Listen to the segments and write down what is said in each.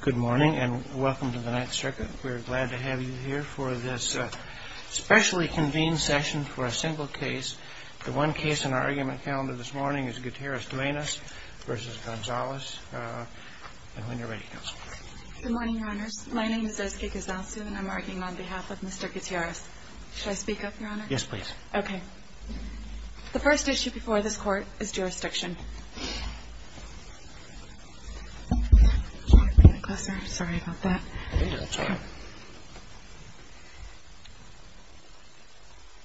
Good morning and welcome to the Ninth Circuit. We are glad to have you here for this specially convened session for a single case. The one case in our argument calendar this morning is Guitierrez-Duenas v. Gonzales. And when you're ready, counsel. Good morning, Your Honors. My name is Eske Gazzalsu and I'm arguing on behalf of Mr. Guitierrez. Should I speak up, Your Honor? Yes, please. Okay. The first issue before this Court is jurisdiction.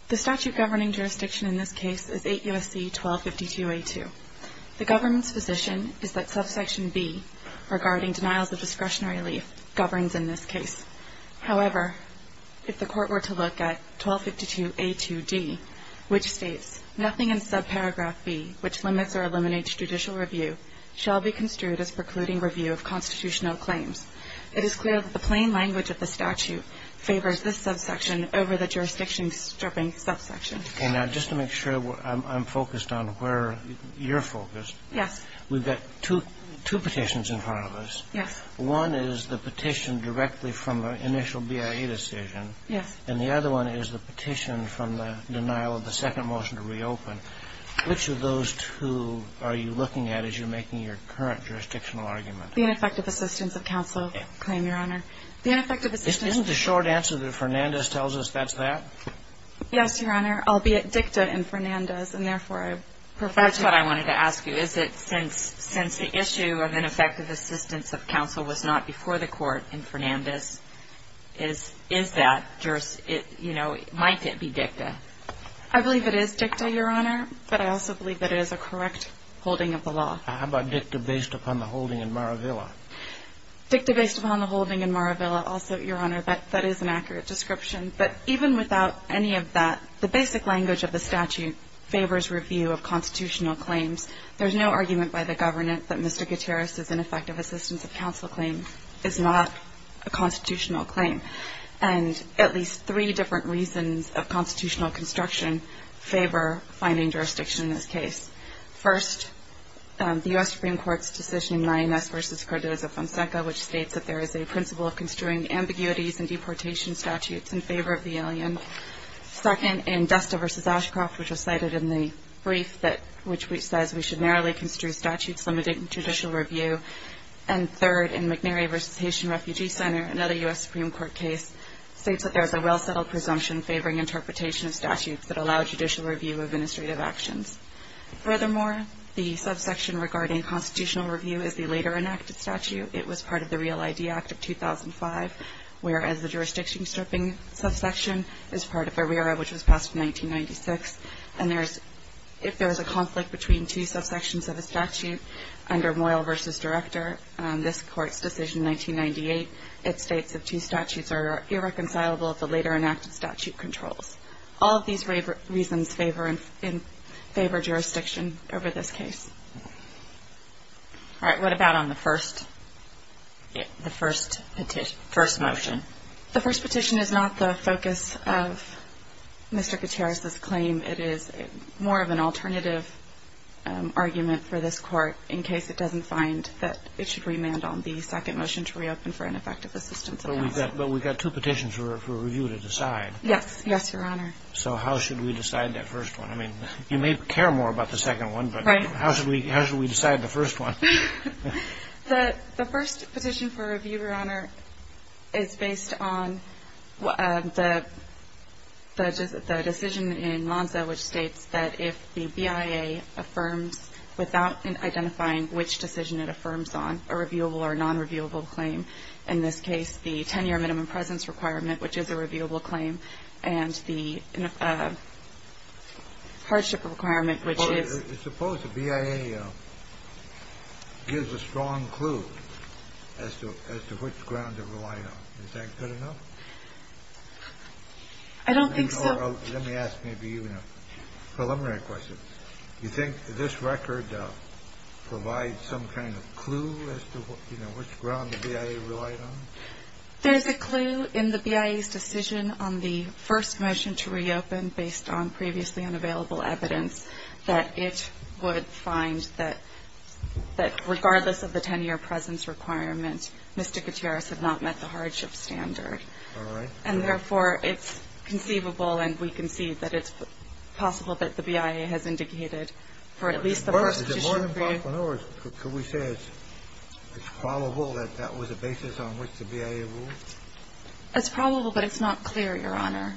The statute governing jurisdiction in this case is 8 U.S.C. 1252a2. The government's position is that subsection b, regarding denials of discretionary relief, governs in this case. However, if the Court were to look at 1252a2g, which states, nothing in subparagraph b, which limits or eliminates judicial review, shall be construed as precluding review of constitutional claims, it is clear that the plain language of the statute favors this subsection over the jurisdiction stripping subsection. Okay. Now, just to make sure I'm focused on where you're focused. Yes. We've got two petitions in front of us. Yes. One is the petition directly from the initial BIA decision. Yes. And the other one is the petition from the denial of the second motion to reopen. Which of those two are you looking at as you're making your current jurisdictional argument? The ineffective assistance of counsel claim, Your Honor. Isn't the short answer that Fernandez tells us that's that? Yes, Your Honor. Albeit dicta in Fernandez, and therefore, I prefer to ask you. That's what I wanted to ask you. Is it since the issue of ineffective assistance of counsel was not before the court in Fernandez, is that, you know, might it be dicta? I believe it is dicta, Your Honor. But I also believe that it is a correct holding of the law. How about dicta based upon the holding in Maravilla? Dicta based upon the holding in Maravilla, also, Your Honor, that is an accurate description. But even without any of that, the basic language of the statute favors review of constitutional claims. There's no argument by the government that Mr. Gutierrez's ineffective assistance of counsel claim is not a constitutional claim. And at least three different reasons of constitutional construction favor finding jurisdiction in this case. First, the U.S. Supreme Court's decision in Mayones v. Cardozo-Fonseca, which states that there is a principle of construing ambiguities in deportation statutes in favor of the alien. Second, in Desta v. Ashcroft, which was cited in the brief that which says we should narrowly construe statutes limiting judicial review. And third, in McNary v. Haitian Refugee Center, another U.S. Supreme Court case, states that there is a well-settled presumption favoring interpretation of statutes that allow judicial review of administrative actions. Furthermore, the subsection regarding constitutional review is the later enacted statute. It was part of the Real ID Act of 2005, whereas the jurisdiction stripping subsection is part of ARERA, which was passed in 1996. And there is – if there is a conflict between two subsections of a statute under Moyle v. Director, this Court's decision in 1998, it states that two statutes are irreconcilable if the later enacted statute controls. All of these reasons favor jurisdiction over this case. All right. What about on the first – the first petition – first motion? The first petition is not the focus of Mr. Gutierrez's claim. It is more of an alternative argument for this Court in case it doesn't find that it should remand on the second motion to reopen for ineffective assistance. But we've got two petitions for review to decide. Yes. Yes, Your Honor. So how should we decide that first one? I mean, you may care more about the second one, but how should we decide the first one? The first petition for review, Your Honor, is based on the decision in Monza which states that if the BIA affirms without identifying which decision it affirms on, a reviewable or nonreviewable claim, in this case the 10-year minimum presence requirement, which is a reviewable claim, and the hardship requirement, which is – Suppose the BIA gives a strong clue as to which ground to rely on. Is that good enough? I don't think so. Let me ask maybe even a preliminary question. Do you think this record provides some kind of clue as to, you know, which ground the BIA relied on? There's a clue in the BIA's decision on the first motion to reopen based on previously unavailable evidence that it would find that regardless of the 10-year presence requirement, Mr. Gutierrez had not met the hardship standard. All right. And therefore, it's conceivable and we can see that it's possible that the BIA has indicated for at least the first petition review. Is it more than 1.0, or could we say it's probable that that was a basis on which the BIA ruled? It's probable, but it's not clear, Your Honor.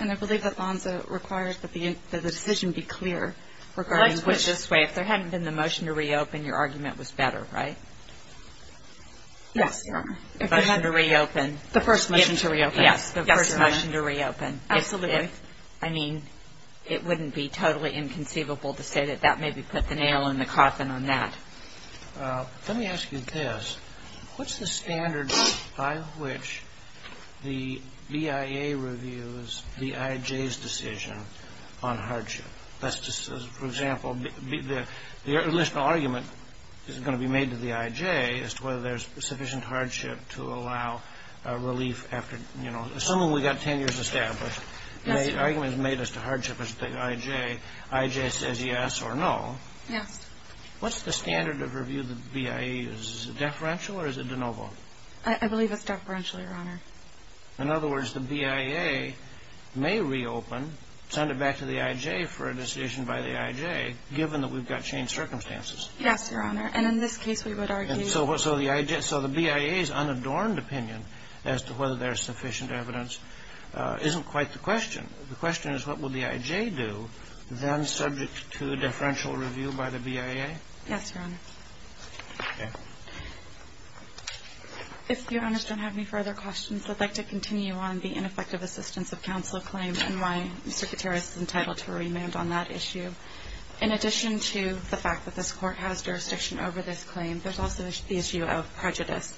And I believe that Lanza requires that the decision be clear regarding which – Let's put it this way. If there hadn't been the motion to reopen, your argument was better, right? Yes, Your Honor. The motion to reopen. The first motion to reopen. Yes. The first motion to reopen. Absolutely. I mean, it wouldn't be totally inconceivable to say that that maybe put the nail in the coffin on that. Let me ask you this. What's the standard by which the BIA reviews the IJ's decision on hardship? For example, the initial argument is going to be made to the IJ as to whether there's sufficient hardship to allow relief after – you know, assuming we've got 10 years established, the argument is made as to hardship as the IJ. IJ says yes or no. Yes. What's the standard of review the BIA uses? Is it deferential or is it de novo? I believe it's deferential, Your Honor. In other words, the BIA may reopen, send it back to the IJ for a decision by the IJ, given that we've got changed circumstances. Yes, Your Honor. And in this case, we would argue – So the BIA's unadorned opinion as to whether there's sufficient evidence isn't quite the question. The question is what will the IJ do then subject to a deferential review by the BIA? Yes, Your Honor. Okay. If Your Honors don't have any further questions, I'd like to continue on the ineffective assistance of counsel claim and why Mr. Gutierrez is entitled to remand on that issue. In addition to the fact that this Court has jurisdiction over this claim, there's also the issue of prejudice.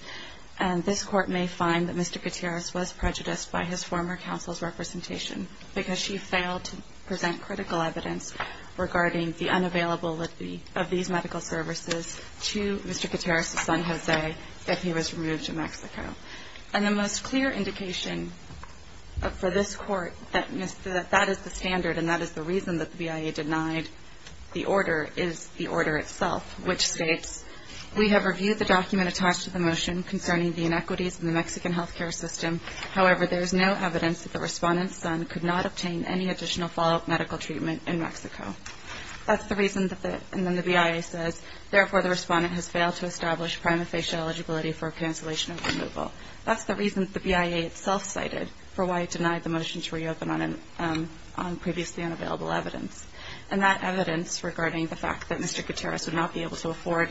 And this Court may find that Mr. Gutierrez was prejudiced by his former counsel's presentation because she failed to present critical evidence regarding the unavailable of these medical services to Mr. Gutierrez's son, Jose, that he was removed to Mexico. And the most clear indication for this Court that that is the standard and that is the reason that the BIA denied the order is the order itself, which states, We have reviewed the document attached to the motion concerning the inequities in the Mexican health care system. However, there is no evidence that the respondent's son could not obtain any additional follow-up medical treatment in Mexico. And then the BIA says, Therefore, the respondent has failed to establish prima facie eligibility for cancellation of removal. That's the reason the BIA itself cited for why it denied the motion to reopen on previously unavailable evidence. And that evidence regarding the fact that Mr. Gutierrez would not be able to afford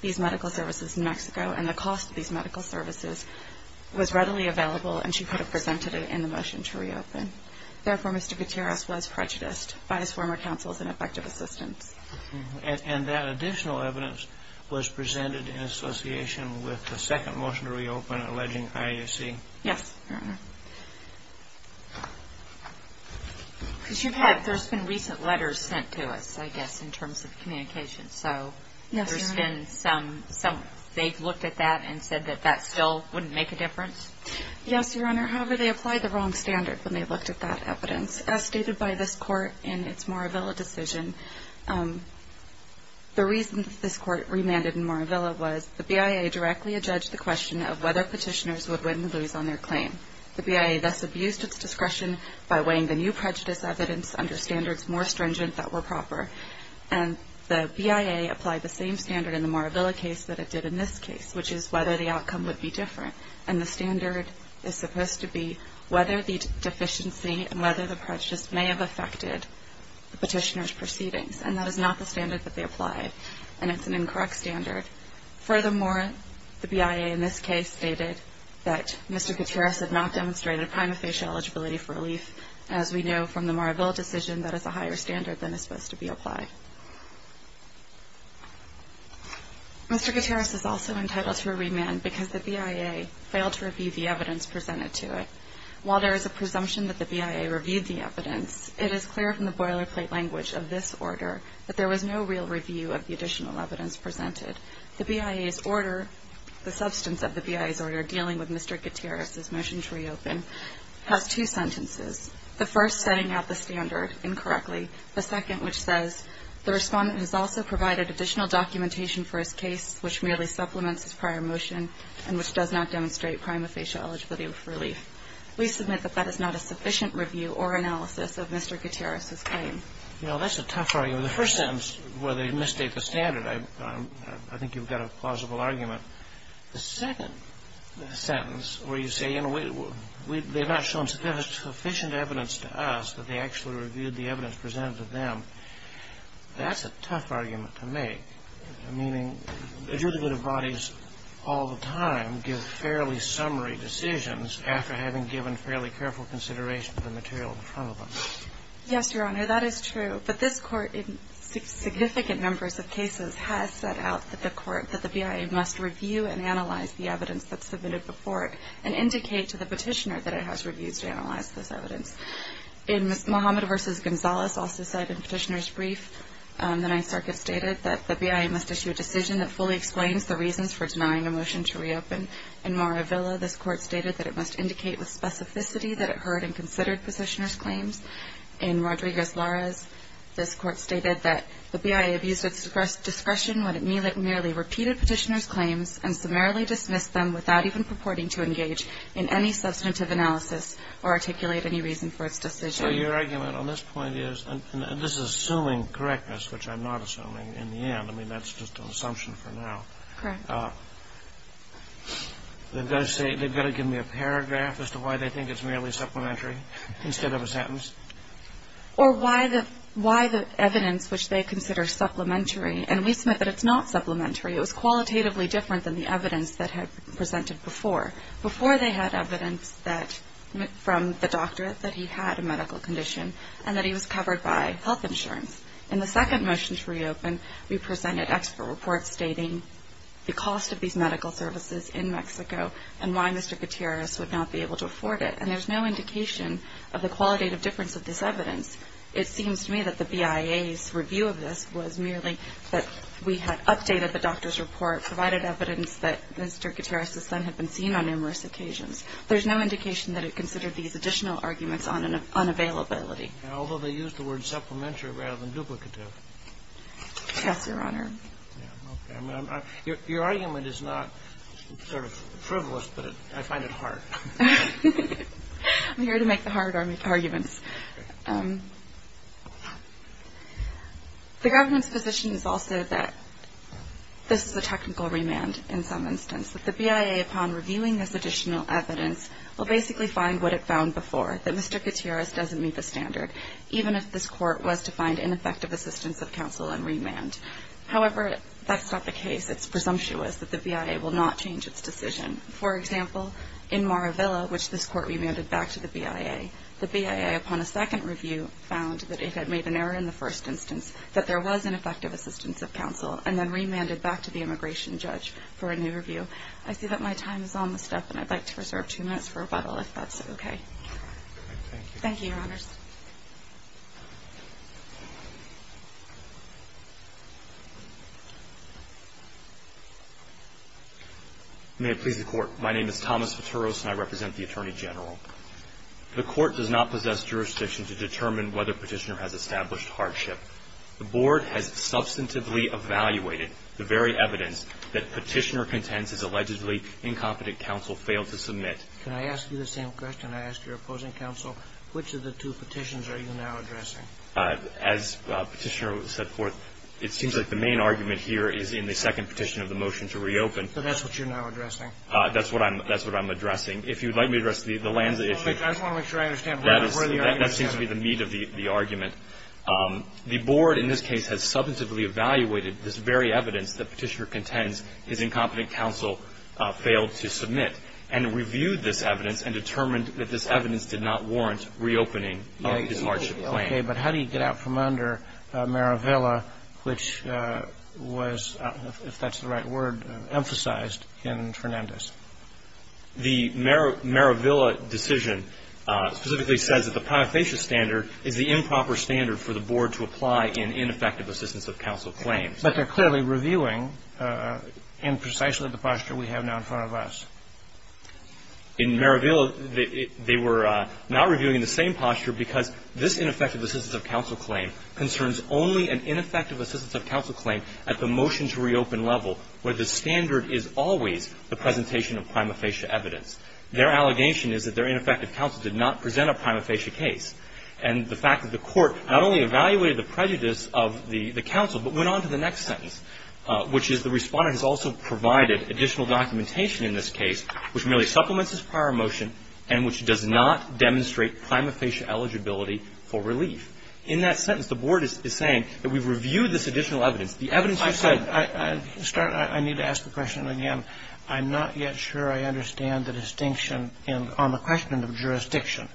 these medical services in Mexico and the cost of these medical services was readily available and she could have presented it in the motion to reopen. Therefore, Mr. Gutierrez was prejudiced by his former counsels and effective assistants. And that additional evidence was presented in association with the second motion to reopen alleging IAC? Yes, Your Honor. Because you've had, there's been recent letters sent to us, I guess, in terms of communications. So there's been some, they've looked at that and said that that still wouldn't make a difference. Yes, Your Honor. However, they applied the wrong standard when they looked at that evidence. As stated by this court in its Moravilla decision, the reason this court remanded in Moravilla was the BIA directly adjudged the question of whether petitioners would win or lose on their claim. The BIA thus abused its discretion by weighing the new prejudice evidence under standards more stringent that were proper. And the BIA applied the same standard in the Moravilla case that it did in this case, which is whether the outcome would be different. And the standard is supposed to be whether the deficiency and whether the prejudice may have affected the petitioner's proceedings. And that is not the standard that they applied. And it's an incorrect standard. Furthermore, the BIA in this case stated that Mr. Gutierrez had not demonstrated prima facie eligibility for relief. As we know from the Moravilla decision, that is a higher standard than is supposed to be applied. Mr. Gutierrez is also entitled to a remand because the BIA failed to review the evidence presented to it. While there is a presumption that the BIA reviewed the evidence, it is clear from the boilerplate language of this order that there was no real review of the additional evidence presented. The BIA's order, the substance of the BIA's order dealing with Mr. Gutierrez's motion to reopen, has two sentences. The first setting out the standard incorrectly. The second which says the respondent has also provided additional documentation for his case which merely supplements his prior motion and which does not demonstrate prima facie eligibility for relief. We submit that that is not a sufficient review or analysis of Mr. Gutierrez's claim. Well, that's a tough argument. The first sentence where they mistake the standard, I think you've got a plausible argument. The second sentence where you say, you know, they've not shown sufficient evidence to us that they actually reviewed the evidence presented to them. That's a tough argument to make, meaning adjudicative bodies all the time give fairly summary decisions after having given fairly careful consideration to the material in front of them. Yes, Your Honor. That is true. But this Court in significant numbers of cases has set out that the BIA must review and analyze the evidence that's submitted before it and indicate to the Petitioner that it has reviewed and analyzed this evidence. In Mohammed v. Gonzales also said in Petitioner's brief, the Ninth Circuit stated that the BIA must issue a decision that fully explains the reasons for denying a motion to reopen. In Moravilla, this Court stated that it must indicate with specificity that it heard and considered Petitioner's claims. In Rodriguez-Larez, this Court stated that the BIA abused its discretion when it merely repeated Petitioner's claims and summarily dismissed them without even or articulate any reason for its decision. So your argument on this point is, and this is assuming correctness, which I'm not assuming in the end. I mean, that's just an assumption for now. Correct. They've got to give me a paragraph as to why they think it's merely supplementary instead of a sentence? Or why the evidence which they consider supplementary. And we submit that it's not supplementary. It was qualitatively different than the evidence that had been presented before. Before they had evidence from the doctor that he had a medical condition and that he was covered by health insurance. In the second motion to reopen, we presented expert reports stating the cost of these medical services in Mexico and why Mr. Gutierrez would not be able to afford it. And there's no indication of the qualitative difference of this evidence. It seems to me that the BIA's review of this was merely that we had updated the There's no indication that it considered these additional arguments unavailability. Although they used the word supplementary rather than duplicative. Yes, Your Honor. Your argument is not sort of frivolous, but I find it hard. I'm here to make the hard arguments. The government's position is also that this is a technical remand in some instance. That the BIA, upon reviewing this additional evidence, will basically find what it found before. That Mr. Gutierrez doesn't meet the standard, even if this court was to find ineffective assistance of counsel and remand. However, that's not the case. It's presumptuous that the BIA will not change its decision. For example, in Maravilla, which this court remanded back to the BIA, the BIA, upon a second review, found that it had made an error in the first instance, that there was ineffective assistance of counsel, and then remanded back to the immigration judge for a new review. I see that my time is on the step, and I'd like to reserve two minutes for rebuttal, if that's okay. Thank you, Your Honors. May it please the Court. My name is Thomas Futuros, and I represent the Attorney General. The Court does not possess jurisdiction to determine whether Petitioner has established hardship. The Board has substantively evaluated the very evidence that Petitioner contends his allegedly incompetent counsel failed to submit. Can I ask you the same question I asked your opposing counsel? Which of the two petitions are you now addressing? As Petitioner set forth, it seems like the main argument here is in the second petition of the motion to reopen. So that's what you're now addressing? That's what I'm addressing. If you'd like me to address the Lanza issue. I just want to make sure I understand. That seems to be the meat of the argument. The Board, in this case, has substantively evaluated this very evidence that Petitioner contends his incompetent counsel failed to submit, and reviewed this evidence and determined that this evidence did not warrant reopening of his hardship claim. Okay. But how do you get out from under Maravilla, which was, if that's the right word, emphasized in Fernandez? The Maravilla decision specifically says that the prima facie standard is the improper standard for the Board to apply in ineffective assistance of counsel claims. But they're clearly reviewing in precisely the posture we have now in front of us. In Maravilla, they were not reviewing the same posture because this ineffective assistance of counsel claim concerns only an ineffective assistance of counsel claim at the motion to reopen level, where the standard is always the presentation of prima facie evidence. Their allegation is that their ineffective counsel did not present a prima facie case. And the fact that the Court not only evaluated the prejudice of the counsel, but went on to the next sentence, which is the Respondent has also provided additional documentation in this case which merely supplements his prior motion and which does not demonstrate prima facie eligibility for relief. In that sentence, the Board is saying that we've reviewed this additional evidence. The evidence you've said — I need to ask the question again. I'm not yet sure I understand the distinction on the question of jurisdiction.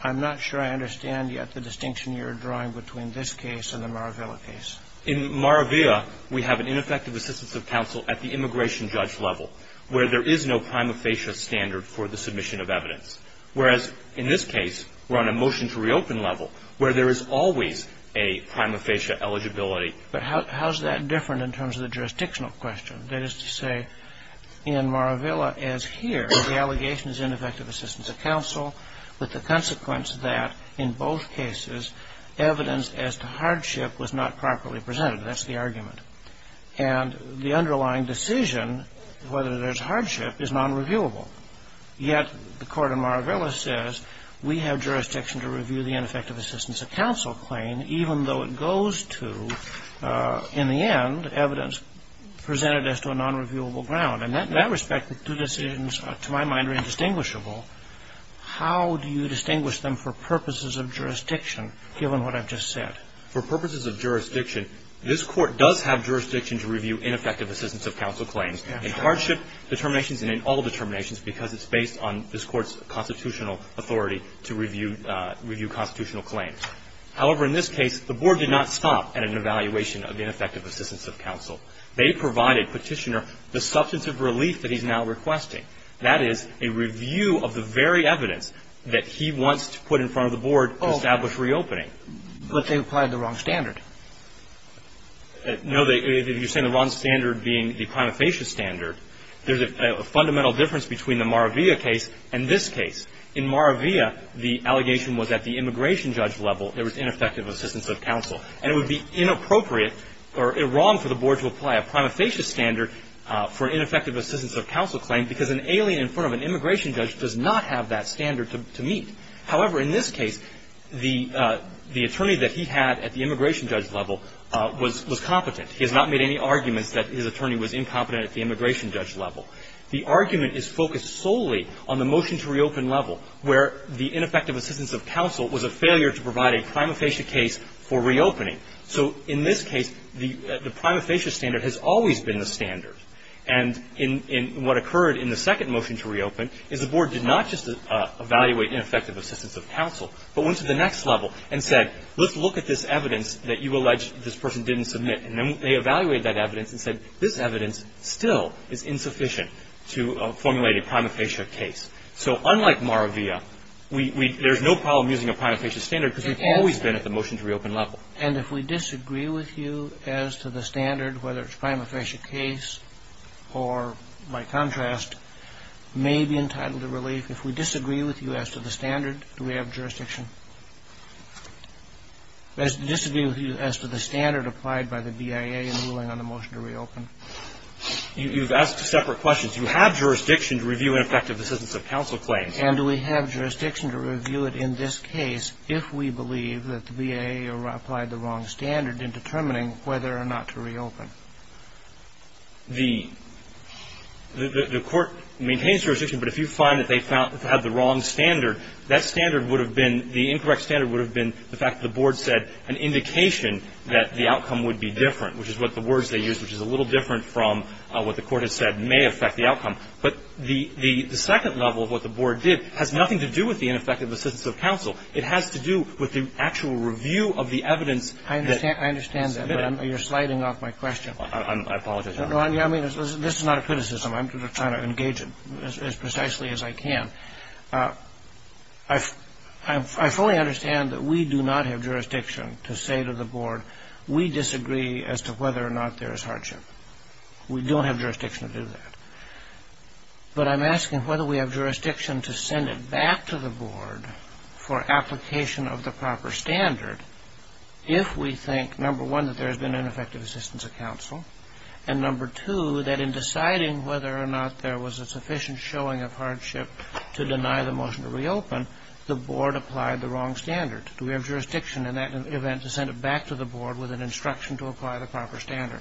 I'm not sure I understand yet the distinction you're drawing between this case and the Maravilla case. In Maravilla, we have an ineffective assistance of counsel at the immigration judge level, where there is no prima facie standard for the submission of evidence. Whereas in this case, we're on a motion to reopen level, where there is always a prima facie eligibility. But how is that different in terms of the jurisdictional question? That is to say, in Maravilla, as here, the allegation is ineffective assistance of counsel, with the consequence that, in both cases, evidence as to hardship was not properly presented. That's the argument. And the underlying decision, whether there's hardship, is nonreviewable. Yet the court in Maravilla says we have jurisdiction to review the ineffective assistance of counsel claim, even though it goes to, in the end, evidence presented as to a nonreviewable ground. And in that respect, the two decisions, to my mind, are indistinguishable. How do you distinguish them for purposes of jurisdiction, given what I've just said? For purposes of jurisdiction, this Court does have jurisdiction to review ineffective assistance of counsel claims, in hardship determinations and in all determinations because it's based on this Court's constitutional authority to review constitutional claims. However, in this case, the Board did not stop at an evaluation of ineffective assistance of counsel. They provided Petitioner the substantive relief that he's now requesting. That is, a review of the very evidence that he wants to put in front of the Board to establish reopening. But they applied the wrong standard. No. You're saying the wrong standard being the prima facie standard. There's a fundamental difference between the Maravilla case and this case. In Maravilla, the allegation was at the immigration judge level there was ineffective assistance of counsel. And it would be inappropriate or wrong for the Board to apply a prima facie standard for ineffective assistance of counsel claim because an alien in front of an immigration judge does not have that standard to meet. However, in this case, the attorney that he had at the immigration judge level was competent. He has not made any arguments that his attorney was incompetent at the immigration judge level. The argument is focused solely on the motion to reopen level, where the ineffective assistance of counsel was a failure to provide a prima facie case for reopening. So in this case, the prima facie standard has always been the standard. And in what occurred in the second motion to reopen is the Board did not just evaluate ineffective assistance of counsel, but went to the next level and said, let's look at this evidence that you allege this person didn't submit. And then they evaluated that evidence and said, this evidence still is insufficient to formulate a prima facie case. So unlike Maravia, there's no problem using a prima facie standard because we've always been at the motion to reopen level. And if we disagree with you as to the standard, whether it's a prima facie case or, by contrast, may be entitled to relief, if we disagree with you as to the standard, do we have jurisdiction? Disagree with you as to the standard applied by the BIA in the ruling on the motion to reopen? You've asked separate questions. You have jurisdiction to review ineffective assistance of counsel claims. And do we have jurisdiction to review it in this case if we believe that the BIA applied the wrong standard in determining whether or not to reopen? The Court maintains jurisdiction, but if you find that they found the wrong standard, that standard would have been, the incorrect standard would have been the fact that the Board said an indication that the outcome would be different, which is what the Court has said may affect the outcome. But the second level of what the Board did has nothing to do with the ineffective assistance of counsel. It has to do with the actual review of the evidence that was submitted. I understand that, but you're sliding off my question. I apologize. No, I mean, this is not a criticism. I'm trying to engage it as precisely as I can. I fully understand that we do not have jurisdiction to say to the Board, we disagree as to whether or not there is hardship. We don't have jurisdiction to do that. But I'm asking whether we have jurisdiction to send it back to the Board for application of the proper standard if we think, number one, that there has been ineffective assistance of counsel, and number two, that in deciding whether or not there was a sufficient showing of hardship to deny the motion to reopen, the Board applied the wrong standard. Do we have jurisdiction in that event to send it back to the Board with an instruction to apply the proper standard?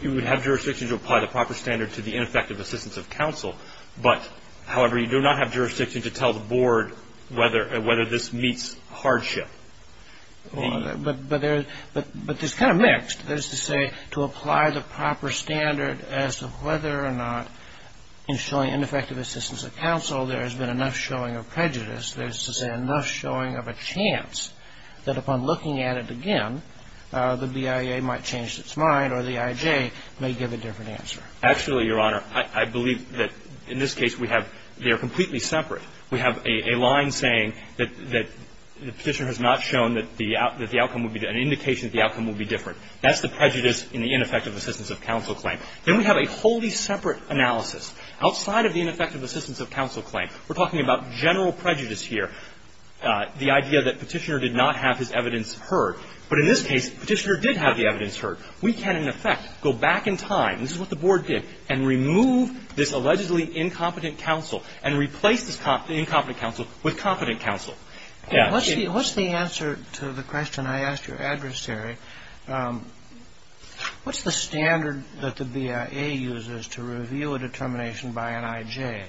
You would have jurisdiction to apply the proper standard to the ineffective assistance of counsel, but, however, you do not have jurisdiction to tell the Board whether this meets hardship. But there's kind of mixed. There's to say to apply the proper standard as to whether or not in showing ineffective assistance of counsel there has been enough showing of prejudice. There's to say enough showing of a chance that upon looking at it again, the BIA might have changed its mind or the IJ may give a different answer. Actually, Your Honor, I believe that in this case we have they're completely separate. We have a line saying that the Petitioner has not shown that the outcome would be an indication that the outcome would be different. That's the prejudice in the ineffective assistance of counsel claim. Then we have a wholly separate analysis. Outside of the ineffective assistance of counsel claim, we're talking about general prejudice here, the idea that Petitioner did not have his evidence heard. But in this case, Petitioner did have the evidence heard. We can, in effect, go back in time, this is what the Board did, and remove this allegedly incompetent counsel and replace this incompetent counsel with competent counsel. Yeah. What's the answer to the question I asked your adversary? What's the standard that the BIA uses to reveal a determination by an IJ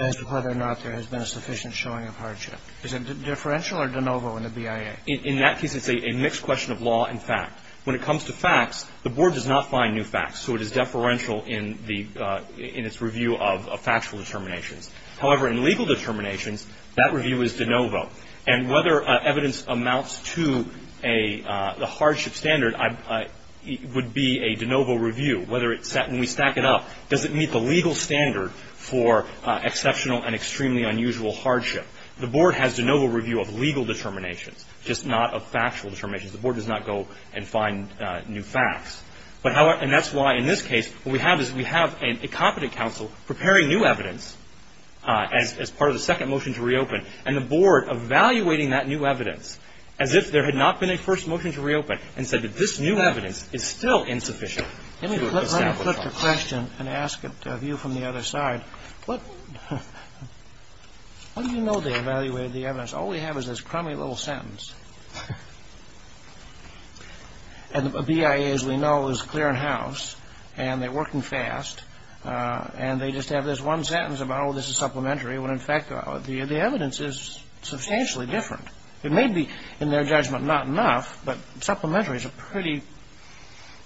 as to whether or not there has been a sufficient showing of hardship? Is it differential or de novo in the BIA? Okay. In that case, it's a mixed question of law and fact. When it comes to facts, the Board does not find new facts, so it is deferential in its review of factual determinations. However, in legal determinations, that review is de novo. And whether evidence amounts to a hardship standard would be a de novo review. When we stack it up, does it meet the legal standard for exceptional and extremely unusual hardship? The Board has de novo review of legal determinations, just not of factual determinations. The Board does not go and find new facts. And that's why, in this case, what we have is we have an incompetent counsel preparing new evidence as part of the second motion to reopen, and the Board evaluating that new evidence as if there had not been a first motion to reopen and said that this new evidence is still insufficient. Let me put the question and ask it of you from the other side. What do you know they evaluated the evidence? All we have is this crummy little sentence. And the BIA, as we know, is clear in house, and they're working fast, and they just have this one sentence about, oh, this is supplementary, when, in fact, the evidence is substantially different. It may be, in their judgment, not enough, but supplementary is a pretty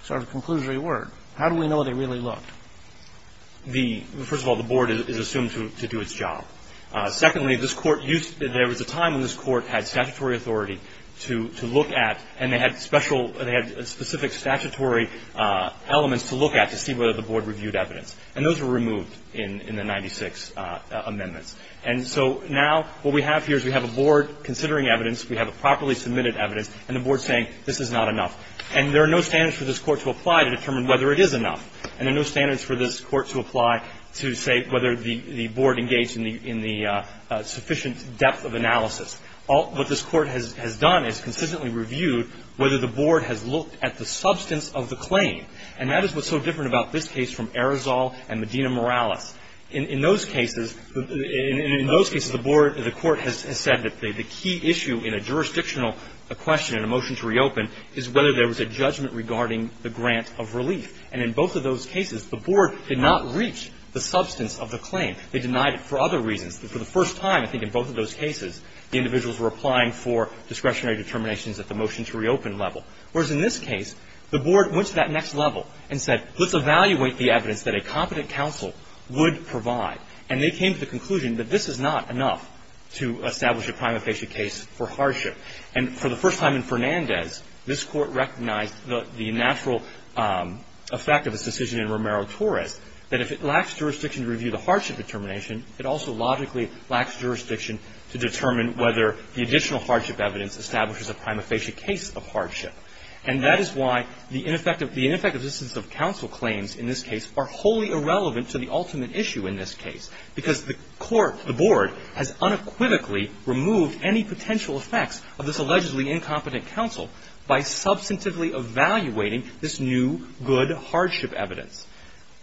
sort of conclusory word. How do we know they really looked? First of all, the Board is assumed to do its job. Secondly, there was a time when this Court had statutory authority to look at, and they had specific statutory elements to look at to see whether the Board reviewed evidence. And those were removed in the 96 amendments. And so now what we have here is we have a Board considering evidence, we have a properly submitted evidence, and the Board is saying this is not enough. And there are no standards for this Court to apply to determine whether it is enough. And there are no standards for this Court to apply to say whether the Board engaged in the sufficient depth of analysis. What this Court has done is consistently reviewed whether the Board has looked at the substance of the claim. And that is what's so different about this case from Arizal and Medina-Morales. In those cases, the Court has said that the key issue in a jurisdictional question and a motion to reopen is whether there was a judgment regarding the grant of relief. And in both of those cases, the Board did not reach the substance of the claim. They denied it for other reasons. For the first time, I think, in both of those cases, the individuals were applying for discretionary determinations at the motion-to-reopen level. Whereas in this case, the Board went to that next level and said, let's evaluate the evidence that a competent counsel would provide. And they came to the conclusion that this is not enough to establish a prima facie case for hardship. And for the first time in Fernandez, this Court recognized the natural effect of this decision in Romero-Torres, that if it lacks jurisdiction to review the hardship determination, it also logically lacks jurisdiction to determine whether the additional hardship evidence establishes a prima facie case of hardship. And that is why the ineffective existence of counsel claims in this case are wholly irrelevant to the ultimate issue in this case, because the Court, the Board, has unequivocally removed any potential effects of this allegedly incompetent counsel by substantively evaluating this new good hardship evidence.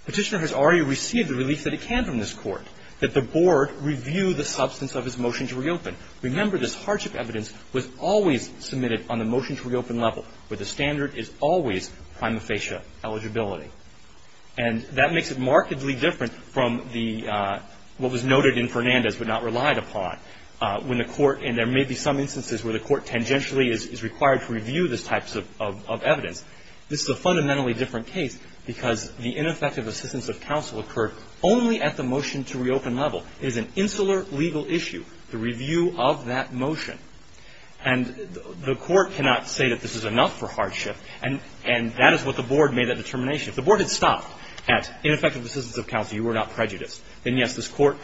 Petitioner has already received the relief that it can from this Court, that the Board review the substance of his motion to reopen. Remember, this hardship evidence was always submitted on the motion-to-reopen level, where the standard is always prima facie eligibility. And that makes it markedly different from the – what was noted in Fernandez but not relied upon, when the Court – and there may be some instances where the Court tangentially is required to review this type of evidence. This is a fundamentally different case because the ineffective existence of counsel occurred only at the motion-to-reopen level. It is an insular legal issue, the review of that motion. And the Court cannot say that this is enough for hardship, and that is what the Board made that determination. If the Board had stopped at ineffective existence of counsel, you were not prejudiced, then, yes, this Court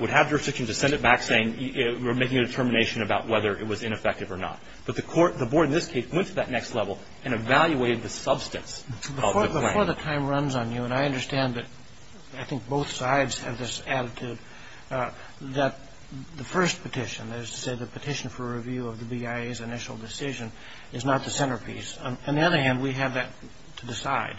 would have jurisdiction to send it back saying, we're making a determination about whether it was ineffective or not. But the Court – the Board in this case went to that next level and evaluated the substance of the claim. Before the time runs on you, and I understand that I think both sides have this attitude, that the first petition, that is to say the petition for review of the BIA's initial decision, is not the centerpiece. On the other hand, we have that to decide.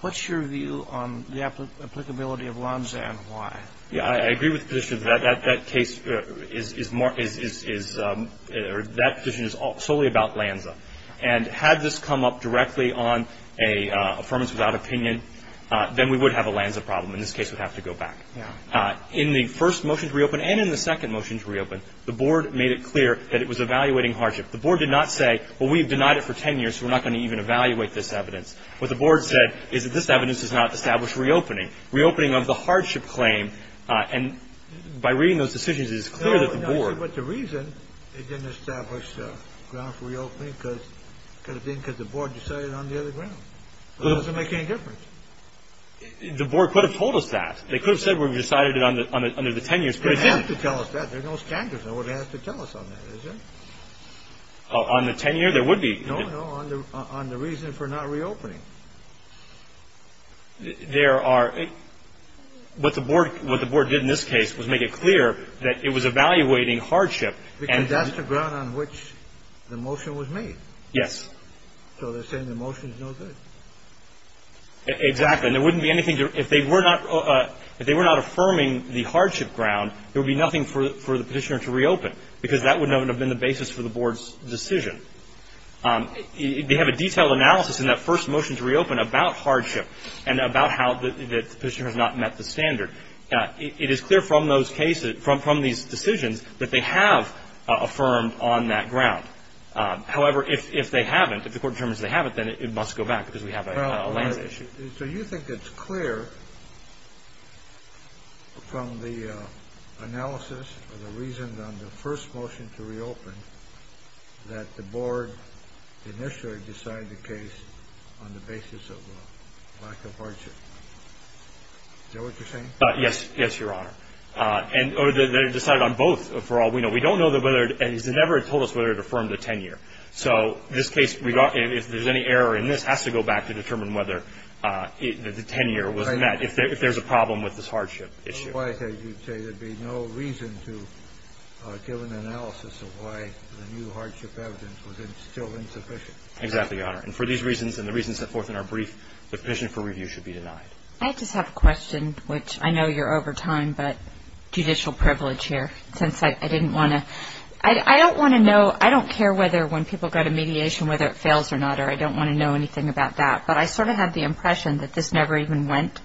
What's your view on the applicability of Lanza and why? Yeah. I agree with the position that that case is more – is – or that petition is solely about Lanza. And had this come up directly on a Affirmative Without Opinion, then we would have a Lanza problem. In this case, we'd have to go back. Yeah. In the first motion-to-reopen and in the second motion-to-reopen, the Board made it clear that it was evaluating hardship. The Board did not say, well, we have denied it for 10 years, so we're not going to even evaluate this evidence. What the Board said is that this evidence does not establish reopening. Reopening of the hardship claim – and by reading those decisions, it is clear that the Board – No, but the reason it didn't establish grounds for reopening could have been because the Board decided on the other grounds. It doesn't make any difference. The Board could have told us that. They could have said we've decided it under the 10 years. They have to tell us that. There are no standards. No one has to tell us on that, is there? On the 10-year, there would be. No, no. On the reason for not reopening. There are – what the Board did in this case was make it clear that it was evaluating hardship. Because that's the ground on which the motion was made. Yes. So they're saying the motion's no good. Exactly. And there wouldn't be anything – if they were not – if they were not affirming the hardship ground, there would be nothing for the Petitioner to reopen because that wouldn't have been the basis for the Board's decision. They have a detailed analysis in that first motion to reopen about hardship and about how the Petitioner has not met the standard. It is clear from those cases – from these decisions that they have affirmed on that ground. However, if they haven't, if the Court determines they haven't, then it must go back because we have a lands issue. So you think it's clear from the analysis of the reasons on the first motion to reopen that the Board initially decided the case on the basis of lack of hardship. Is that what you're saying? Yes. Yes, Your Honor. And – or they decided on both for all we know. We don't know whether – they never told us whether it affirmed the 10-year. So this case, if there's any error in this, has to go back to determine whether the 10-year was met, if there's a problem with this hardship issue. Well, why, as you say, there'd be no reason to give an analysis of why the new hardship evidence was still insufficient. Exactly, Your Honor. And for these reasons and the reasons set forth in our brief, the Petitioner for review should be denied. I just have a question, which I know you're over time, but judicial privilege here, since I didn't want to – I don't want to know – I don't care whether when people go to mediation, whether it fails or not, or I don't want to know anything about that. But I sort of have the impression that this never even went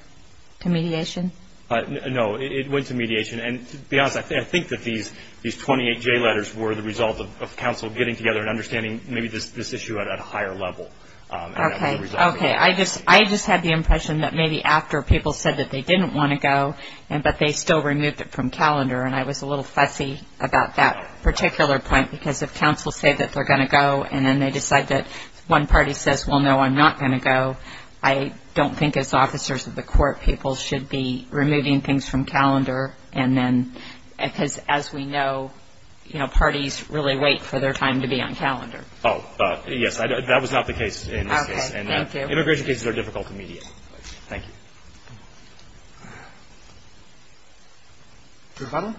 to mediation. No, it went to mediation. And to be honest, I think that these 28 J letters were the result of counsel getting together and understanding maybe this issue at a higher level. Okay, okay. I just had the impression that maybe after people said that they didn't want to go, but they still removed it from calendar, and I was a little fussy about that particular point because if counsel say that they're going to go and then they decide that one party says, well, no, I'm not going to go, I don't think as officers of the court people should be removing things from calendar and then – because as we know, you know, parties really wait for their time to be on calendar. Oh, yes, that was not the case in this case. Okay, thank you. Immigration cases are difficult to mediate. Thank you. Your final?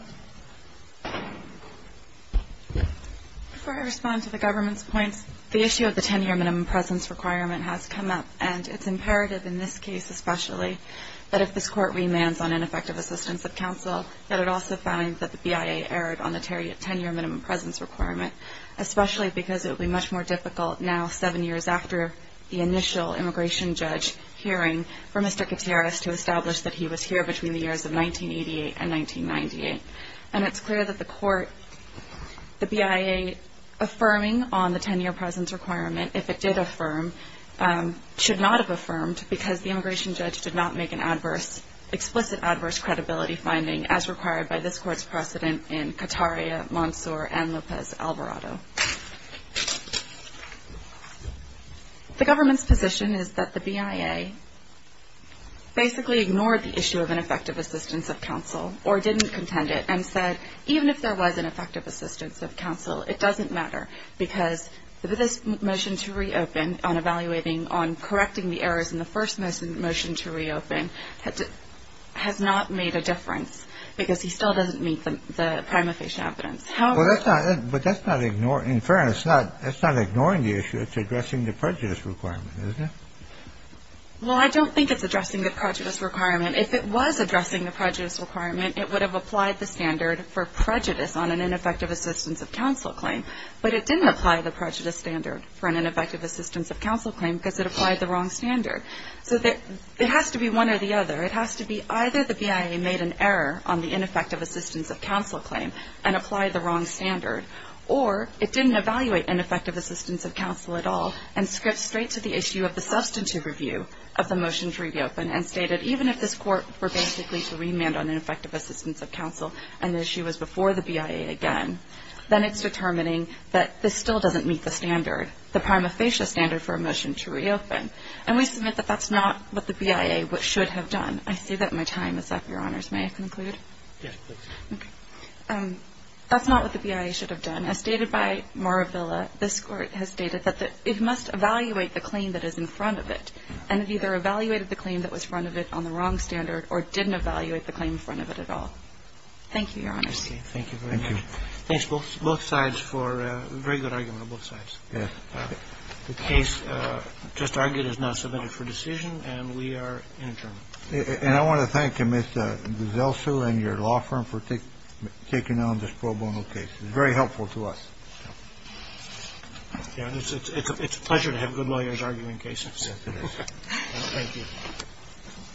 Before I respond to the government's points, the issue of the 10-year minimum presence requirement has come up, and it's imperative in this case especially that if this Court remands on ineffective assistance of counsel that it also find that the BIA erred on the 10-year minimum presence requirement, especially because it would be much more difficult now, seven years after the initial immigration judge hearing, for Mr. Gutierrez to establish that he was here between the years of 1988 and 1998. And it's clear that the BIA affirming on the 10-year presence requirement, if it did affirm, should not have affirmed because the immigration judge did not make an explicit adverse credibility finding, as required by this Court's precedent in Cataria, Mansour, and Lopez-Alvarado. The government's position is that the BIA basically ignored the issue of ineffective assistance of counsel or didn't contend it and said even if there was an effective assistance of counsel, it doesn't matter because this motion to reopen on evaluating on correcting the errors in the first motion to reopen has not made a difference because he still doesn't meet the prima facie evidence. But that's not ignoring, in fairness, that's not ignoring the issue, it's addressing the prejudice requirement, isn't it? Well, I don't think it's addressing the prejudice requirement. If it was addressing the prejudice requirement, it would have applied the standard for prejudice on an ineffective assistance of counsel claim, but it didn't apply the prejudice standard for an ineffective assistance of counsel claim because it applied the wrong standard. So it has to be one or the other. It has to be either the BIA made an error on the ineffective assistance of counsel claim and applied the wrong standard, or it didn't evaluate ineffective assistance of counsel at all and skipped straight to the issue of the substantive review of the motion to reopen and stated even if this Court were basically to remand on ineffective assistance of counsel and the issue was before the BIA again, then it's determining that this still doesn't meet the standard, the prima facie standard for a motion to reopen. And we submit that that's not what the BIA should have done. I see that my time is up, Your Honors. May I conclude? Yes, please. Okay. That's not what the BIA should have done. As stated by Moravilla, this Court has stated that it must evaluate the claim that is in front of it and have either evaluated the claim that was front of it on the wrong standard or didn't evaluate the claim in front of it at all. Thank you, Your Honors. Okay. Thank you very much. Thank you. Thanks, both sides for a very good argument on both sides. Yes. The case just argued is now submitted for decision, and we are adjourned. And I want to thank you, Mr. Guzzelsu and your law firm for taking on this pro bono case. It was very helpful to us. Yes. It's a pleasure to have good lawyers arguing cases. Yes, it is. Thank you.